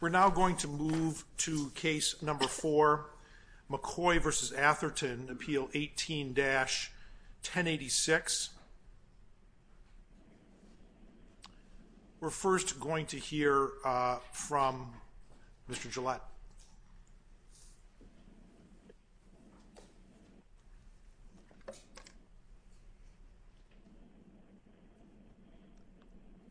We're now going to move to case number 4 McCoy v. Atherton appeal 18-1086 we're first going to hear from Mr. Gillette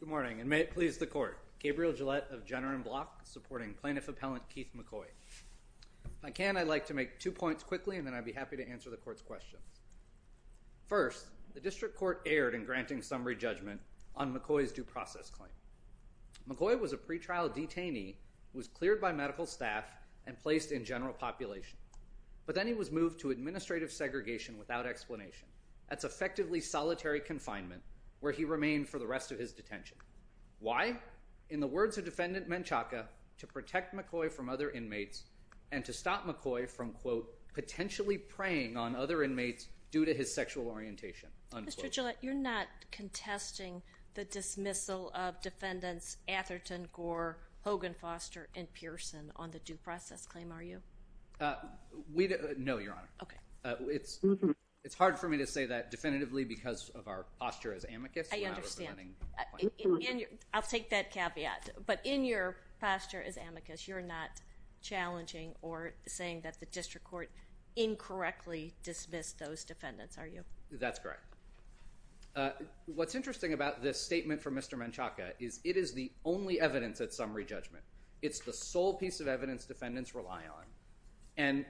Good morning and may it please the court Gabriel Gillette of Jenner and Block supporting plaintiff appellant Keith McCoy. If I can I'd like to make two points quickly and then I'd be happy to answer the court's questions. First the district court erred in granting summary judgment on McCoy's due process claim. McCoy was a pretrial detainee who was cleared by medical staff and placed in general population but then he was moved to administrative segregation without explanation. That's effectively solitary confinement where he remained for the rest of his detention. Why? In the words of defendant Menchaca to protect McCoy from other inmates and to stop McCoy from quote potentially preying on other inmates due to his sexual orientation Mr. Gillette you're not contesting the dismissal of defendants Atherton, Gore, Hogan, Foster and Pearson on the due process claim are you? No your honor. It's hard for me to say that definitively because of our posture as amicus. I understand. I'll take that caveat but in your posture as amicus you're not challenging or saying that the district court incorrectly dismissed those defendants are you? That's correct. What's interesting about this statement from Mr. Menchaca is it is the only evidence at summary judgment. It's the sole piece of evidence defendants rely on and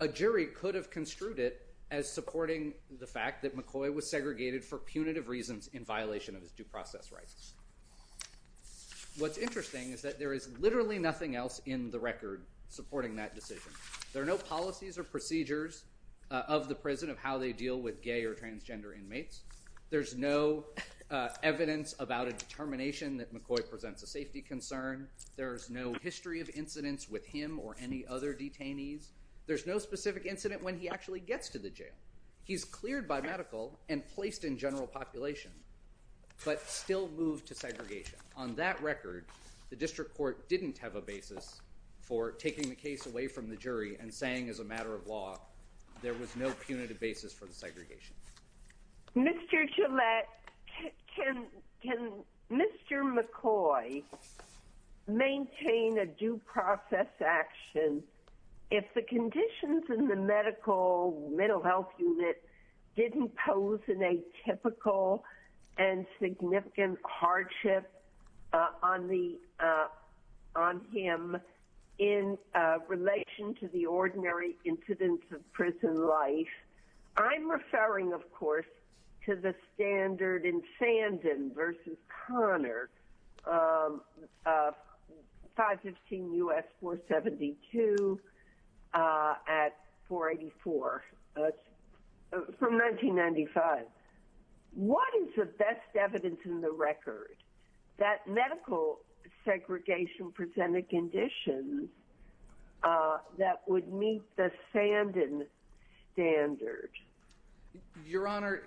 a jury could have construed it as supporting the fact that McCoy was segregated for punitive reasons in violation of his due process rights. What's interesting is that there is literally nothing else in the record supporting that decision. There are no policies or procedures of the prison of how they deal with gay or transgender inmates. There's no evidence about a determination that McCoy presents a safety concern. There's no history of incidents with him or any other detainees. There's no specific incident when he actually gets to the jail. He's cleared by medical and placed in general population but still moved to segregation. On that record the district court didn't have a basis for taking the jury and saying as a matter of law there was no punitive basis for the segregation. Mr. Gillette, can Mr. McCoy maintain a due process action if the conditions in the medical mental health unit didn't pose an atypical and significant hardship on him in relation to the ordinary incidence of prison life? I'm referring, of course, to the standard in Sandin v. Connor, 515 U.S. 472 at 484 from 1995. What is the best evidence in the record that medical segregation presented conditions that would meet the Sandin standard? Your Honor,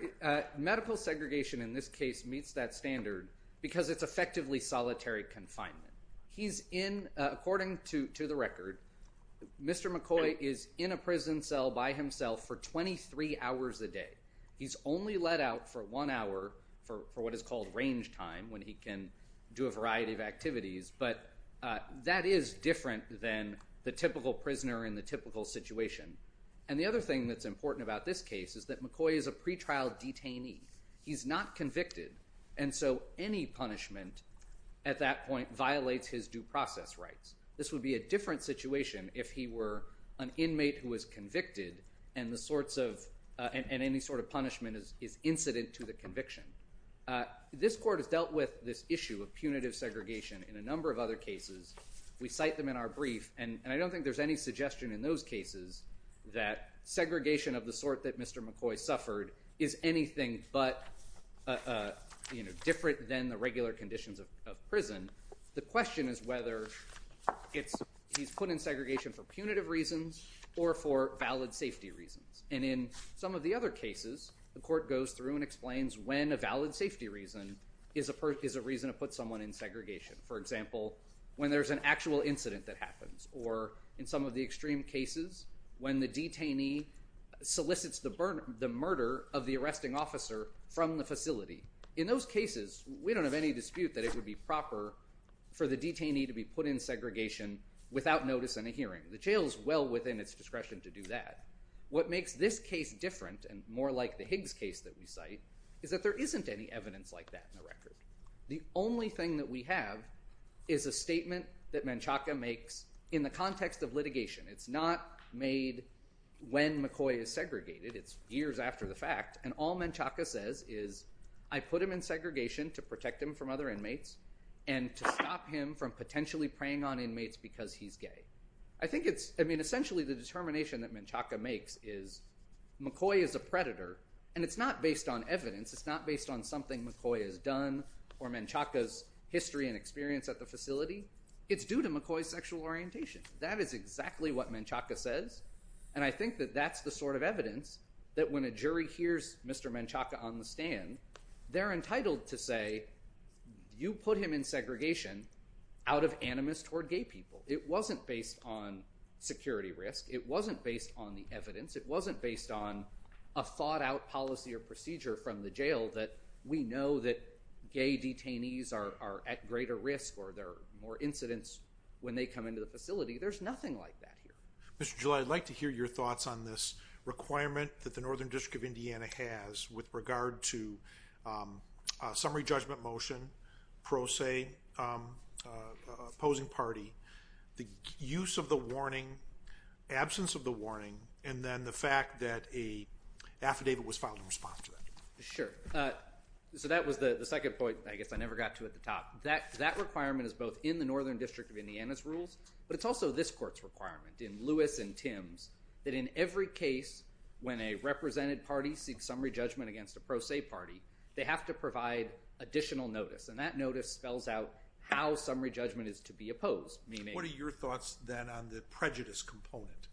medical segregation in this case meets that standard because it's effectively solitary confinement. He's in, according to the record, Mr. McCoy is in a prison cell by himself for 23 hours a day. He's only let out for one hour for what is called range time when he can do a variety of activities but that is different than the typical prisoner in the typical situation. The other thing that's important about this case is that McCoy is a pretrial detainee. He's not convicted and so any punishment at that point violates his due process rights. This would be a different situation if he were an inmate who was convicted and any sort of punishment is incident to the conviction. This Court has dealt with this issue of punitive segregation in a number of other cases. We cite them in our brief and I don't think there's any suggestion in those cases that segregation of the sort that Mr. McCoy suffered is anything but different than the regular conditions of prison. The question is whether he's put in segregation for punitive reasons or for valid safety reasons. In some of the other cases, the Court goes through and explains when a valid safety reason is a reason to put someone in segregation. For example, when there's an actual incident that happens or in some of the extreme cases when the detainee solicits the murder of the arresting officer from the facility. In those cases, we don't have any dispute that it would be proper for the detainee to be put in segregation without notice in a hearing. The jail is well within its discretion to do that. What makes this case different and more like the Higgs case that we cite is that there isn't any evidence like that in the record. The only thing that we have is a statement that Menchaca makes in the context of litigation. It's not made when McCoy is segregated. It's years after the fact. All Menchaca says is, I put him in segregation to protect him from other inmates and to stop him from potentially preying on inmates because he's gay. Essentially, the determination that Menchaca makes is McCoy is a predator and it's not based on evidence. It's not based on something McCoy has done or Menchaca's history and experience at the facility. It's due to McCoy's sexual orientation. That is exactly what Menchaca says. I think that that's the sort of evidence that when a jury hears Mr. Menchaca on the stand, they're entitled to say, you put him in segregation out of animus toward gay people. It wasn't based on security risk. It wasn't based on the evidence. It wasn't based on a thought-out policy or procedure from the jail that we know that gay there's nothing like that here. Mr. July, I'd like to hear your thoughts on this requirement that the Northern District of Indiana has with regard to summary judgment motion, pro se, opposing party, the use of the warning, absence of the warning, and then the fact that a affidavit was filed in response to that. Sure. So that was the second point. I guess I never got to at the But it's also this court's requirement in Lewis and Tim's that in every case when a represented party seeks summary judgment against a pro se party, they have to provide additional notice. And that notice spells out how summary judgment is to be opposed. What are your thoughts then on the prejudice component?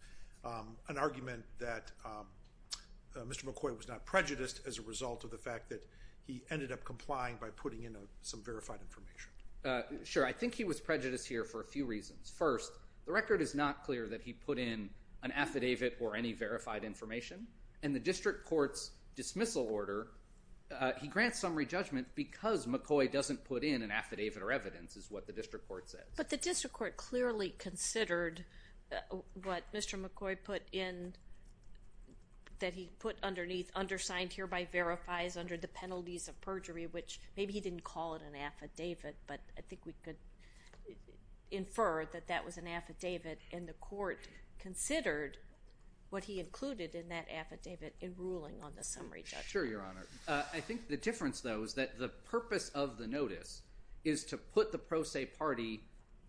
An argument that Mr. McCoy was not prejudiced as a result of the fact that he ended up complying by putting in some verified information. Sure. I think he was prejudiced first. The record is not clear that he put in an affidavit or any verified information. And the district court's dismissal order, he grants summary judgment because McCoy doesn't put in an affidavit or evidence is what the district court says. But the district court clearly considered what Mr. McCoy put in, that he put underneath, undersigned hereby verifies under the penalties of perjury, which maybe he didn't call it an affidavit, but I think we could infer that that was an affidavit. And the court considered what he included in that affidavit in ruling on the summary judgment. Sure, Your Honor. I think the difference, though, is that the purpose of the notice is to put the pro se party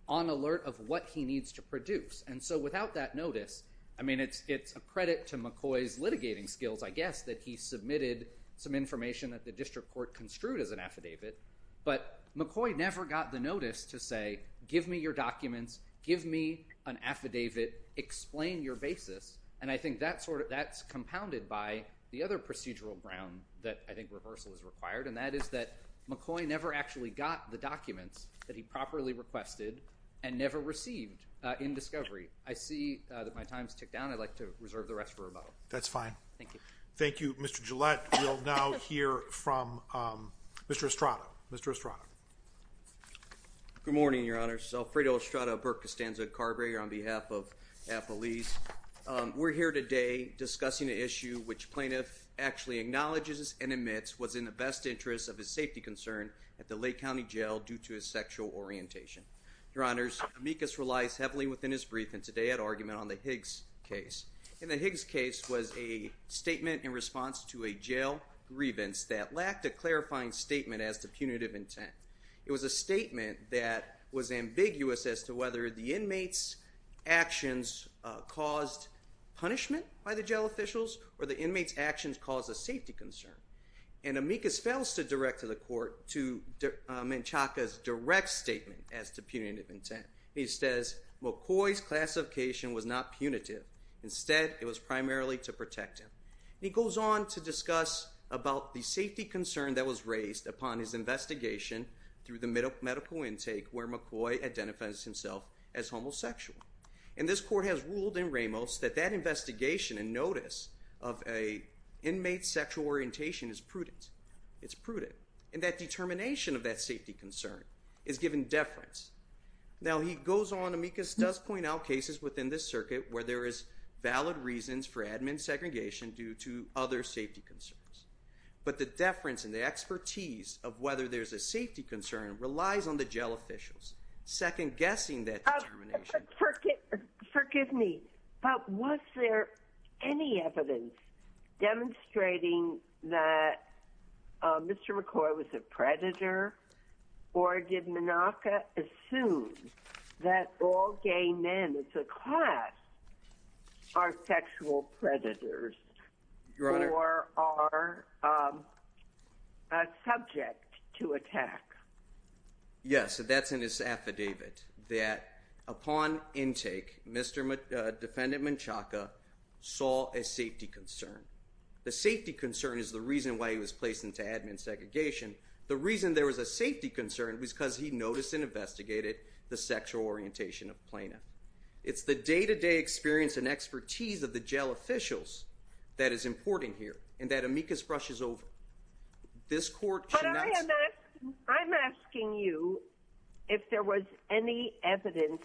on alert of what he needs to produce. And so without that notice, I mean, it's a credit to McCoy's litigating skills, I guess, that he submitted some information that the district court construed as an affidavit. But McCoy never got the notice to say, give me your documents, give me an affidavit, explain your basis. And I think that's compounded by the other procedural ground that I think reversal is required, and that is that McCoy never actually got the documents that he properly requested and never received in discovery. I see that my time's ticked down. I'd like to reserve the rest for rebuttal. That's fine. Thank you. Thank you, Mr. Gillette. We'll now hear from Mr. Estrada. Mr. Estrada. Good morning, Your Honor. Alfredo Estrada, Burke Costanza Carburetor on behalf of Appalese. We're here today discussing an issue which plaintiff actually acknowledges and admits was in the best interest of his safety concern at the Lake County Jail due to his sexual orientation. Your Honors, Amicus relies heavily within his response to a jail grievance that lacked a clarifying statement as to punitive intent. It was a statement that was ambiguous as to whether the inmate's actions caused punishment by the jail officials or the inmate's actions caused a safety concern. And Amicus fails to direct to the court to Menchaca's direct statement as to punitive intent. He says, McCoy's classification was not to discuss about the safety concern that was raised upon his investigation through the medical intake where McCoy identifies himself as homosexual. And this court has ruled in Ramos that that investigation and notice of a inmate's sexual orientation is prudent. It's prudent. And that determination of that safety concern is given deference. Now he goes on, Amicus does point out where there is valid reasons for admin segregation due to other safety concerns. But the deference and the expertise of whether there's a safety concern relies on the jail officials second-guessing that determination. Forgive me, but was there any evidence demonstrating that Mr. McCoy was a predator or did men, it's a class, are sexual predators or are subject to attack? Yes, that's in his affidavit that upon intake, Mr. Defendant Menchaca saw a safety concern. The safety concern is the reason why he was placed into admin segregation. The reason there was a safety concern was because he noticed and investigated the sexual orientation of plaintiff. It's the day to day experience and expertise of the jail officials that is important here and that Amicus brushes over. This court... But I'm asking you if there was any evidence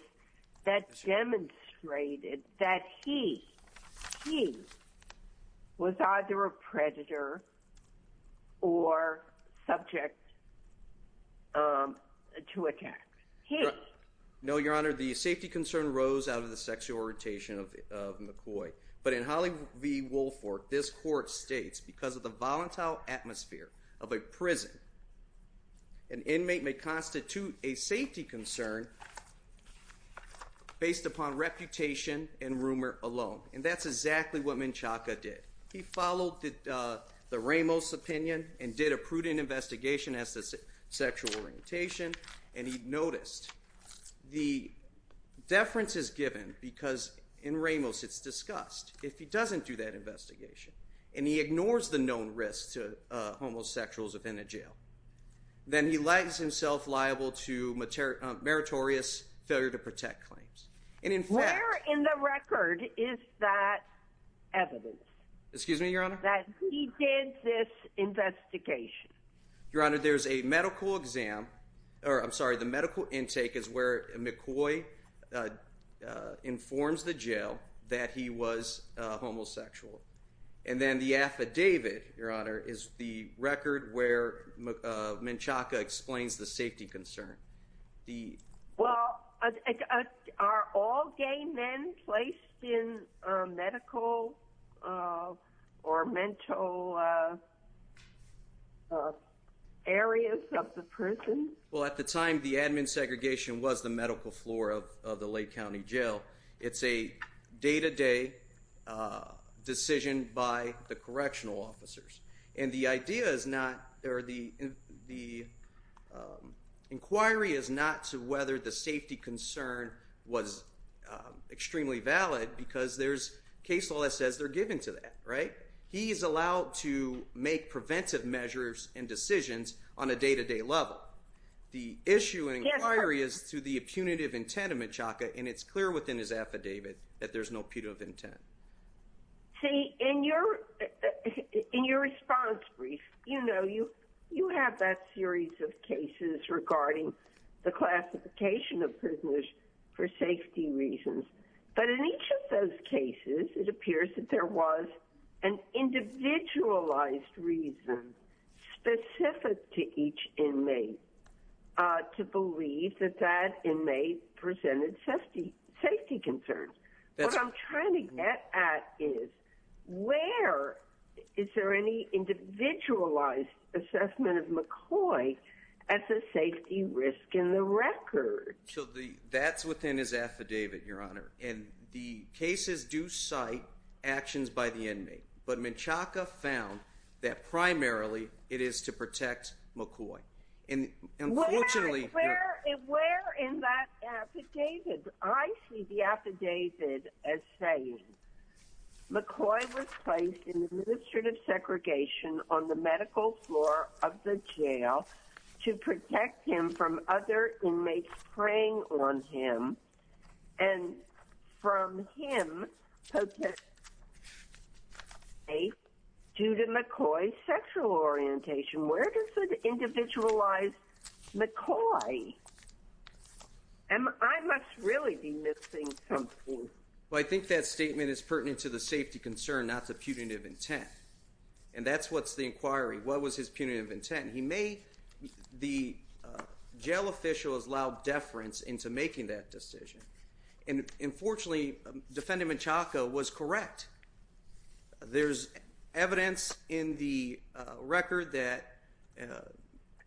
that demonstrated that he, he was either a predator or subject to attack? No, Your Honor, the safety concern rose out of the sexual orientation of McCoy. But in Holly v. Woolfolk, this court states because of the volatile atmosphere of a prison, an inmate may constitute a safety concern based upon reputation and rumor alone. And that's exactly what Menchaca did. He followed the Ramos opinion and he did a prudent investigation as to sexual orientation and he noticed the deference is given because in Ramos it's discussed. If he doesn't do that investigation and he ignores the known risks to homosexuals within a jail, then he lands himself liable to meritorious failure to protect claims. And in fact... Where in the record is that evidence? Excuse me, Your Honor? That he did this investigation. Your Honor, there's a medical exam, or I'm sorry, the medical intake is where McCoy informs the jail that he was homosexual. And then the affidavit, Your Honor, is the record where Menchaca explains the safety concern. Well, are all gay men placed in medical or mental areas of the prison? Well, at the time, the admin segregation was the medical floor of the Lake County Jail. It's a day-to-day decision by the correctional officers. And the inquiry is not to whether the safety concern was extremely valid because there's case law that says they're given to that, right? He's allowed to make preventive measures and decisions on a day-to-day level. The issue in inquiry is to the punitive intent of Menchaca and it's clear within his affidavit that there's no punitive intent. See, in your response brief, you know, you have that series of cases regarding the classification of prisoners for safety reasons. But in each of those cases, it appears that there was an individualized reason specific to each of those cases. And what I'm trying to get at is, where is there any individualized assessment of McCoy at the safety risk in the record? So that's within his affidavit, Your Honor. And the cases do cite actions by the inmate. But Menchaca found that primarily it is to protect McCoy. Where in that affidavit? I see the affidavit as saying, McCoy was placed in administrative segregation on the medical floor of the jail to protect him from other inmates preying on him and from him, due to McCoy's sexual orientation. Where does it individualize McCoy? And I must really be missing something. Well, I think that statement is pertinent to the safety concern, not the punitive intent. And that's what's the inquiry. What was his punitive intent? He made the jail official's loud deference into making that decision. And unfortunately, Defendant Menchaca was correct. There's evidence in the record that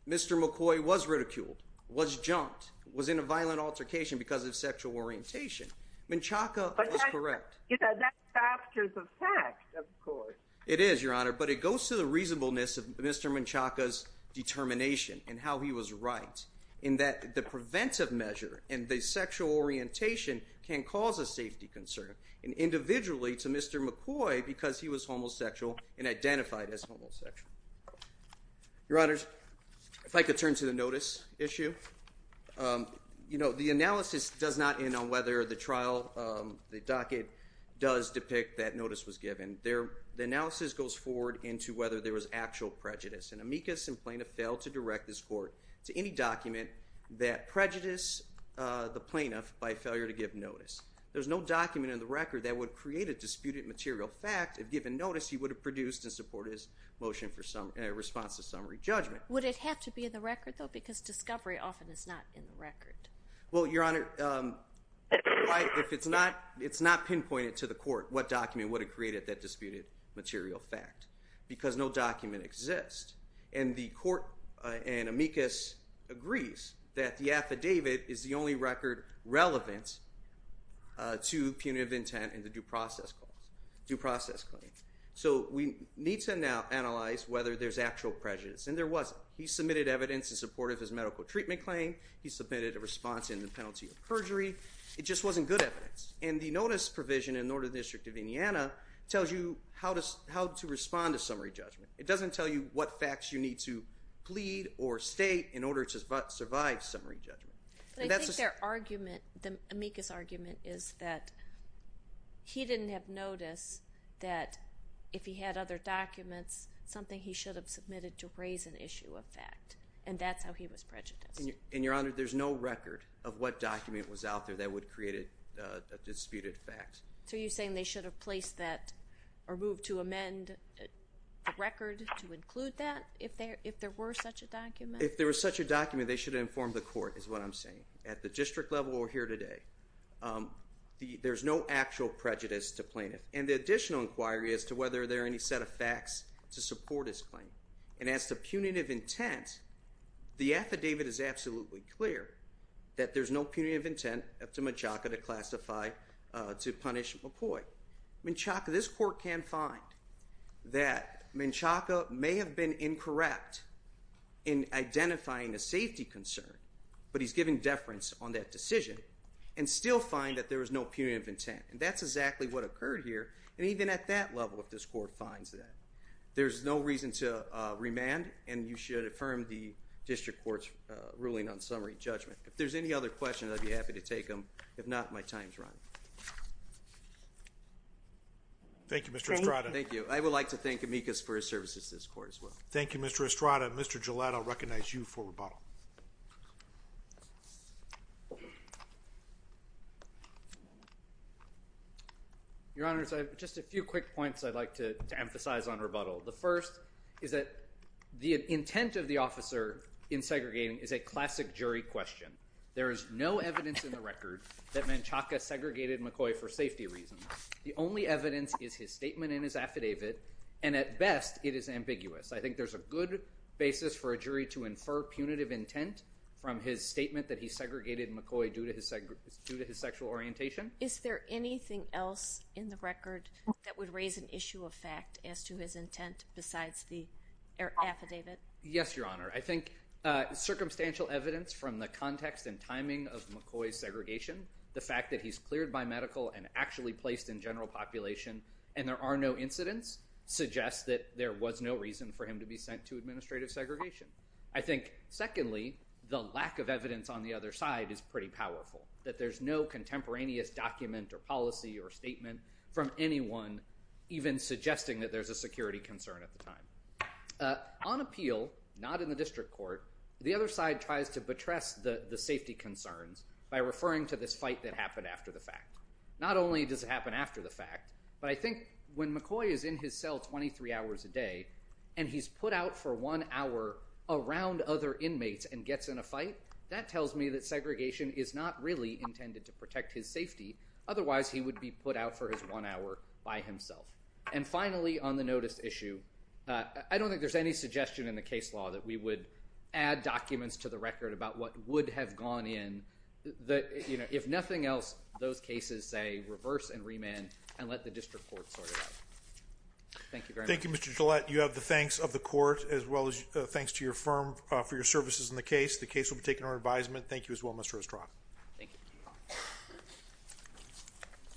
Mr. McCoy was ridiculed, was jumped, was in a violent altercation because of sexual orientation. Menchaca was correct. But that's a fact, of course. It is, Your Honor. But it goes to the reasonableness of Mr. Menchaca's determination and how he was right, in that the Mr. McCoy, because he was homosexual and identified as homosexual. Your Honors, if I could turn to the notice issue. You know, the analysis does not end on whether the trial, the docket, does depict that notice was given. The analysis goes forward into whether there was actual prejudice. And amicus and plaintiff failed to direct this court to any document that prejudiced the plaintiff by failure to give notice. There's no document in the record that would create a disputed material fact. If given notice, he would have produced and supported his motion in response to summary judgment. Would it have to be in the record, though? Because discovery often is not in the record. Well, Your Honor, if it's not pinpointed to the court, what document would have created that disputed material fact? Because no document exists. And the court, in amicus, agrees that the affidavit is the only record relevant to punitive intent in the due process claim. So we need to now analyze whether there's actual prejudice, and there wasn't. He submitted evidence in support of his medical treatment claim. He submitted a response in the penalty of perjury. It just wasn't good evidence. And the notice provision in the Northern District of Indiana tells you how to respond to summary judgment. It doesn't tell you what facts you need to plead or state in order to survive summary judgment. But I think their argument, the amicus argument, is that he didn't have notice that if he had other documents, something he should have submitted to raise an issue of fact. And that's how he was prejudiced. And, Your Honor, there's no record of what document was out there that would create a disputed fact. So you're saying they should have placed that, or moved to amend the record to include that if there were such a document? If there was such a document, they should have informed the court, is what I'm saying. At the district level, or here today, there's no actual prejudice to plaintiff. And the additional inquiry as to whether there are any set of facts to support his claim. And as to punitive intent, the affidavit is absolutely clear that there's no punitive intent up to Menchaca to classify, to punish McCoy. Menchaca, this court can find that Menchaca may have been incorrect in identifying a safety concern, but he's given deference on that decision, and still find that there was no punitive intent. And that's exactly what occurred here, and even at that level, if this court finds that. There's no reason to remand, and you should affirm the district court's ruling on summary judgment. If there's any other questions, I'd be happy to take them. If not, my time's run. Thank you, Mr. Estrada. Thank you. I would like to thank Amicus for his services to this court as well. Thank you, Mr. Estrada. Mr. Gillette, I'll recognize you for rebuttal. Your Honors, I have just a few quick points I'd like to emphasize on rebuttal. The first is that the intent of the officer in segregating is a classic jury question. There is no evidence in the record that Menchaca segregated McCoy for safety reasons. The only evidence is his statement in his affidavit, and at best, it is ambiguous. I think there's a good basis for a jury to infer punitive intent from his statement that he segregated McCoy due to his sexual orientation. Is there anything else in the record that would raise an issue of fact as to his intent besides the affidavit? Yes, Your Honor. I think circumstantial evidence from the context and timing of McCoy's segregation, the fact that he's cleared by medical and actually placed in general population, and there are no incidents, suggests that there was no reason for him to be sent to administrative segregation. I think, secondly, the lack of evidence on the other side is pretty powerful, that there's no contemporaneous document or policy or statement from anyone even suggesting that there's a security concern at the time. On appeal, not in the district court, the other side tries to betray the safety concerns by referring to this fight that happened after the fact. Not only does it happen after the fact, but I think when McCoy is in his cell 23 hours a day and he's put out for one hour around other inmates and gets in a fight, that tells me that segregation is not really intended to protect his safety. Otherwise, he would be put out for his one hour by himself. And finally, on the notice issue, I don't think there's any suggestion in the case law that we would add documents to the record about what would have gone in. If nothing else, those cases say reverse and remand and let the district court sort it out. Thank you very much. Thank you, Mr. Gillette. You have the thanks of the court as well as thanks to your firm for your services in the case. The case will be taken under advisement. Thank you as well, Mr. Ostroff. Thank you.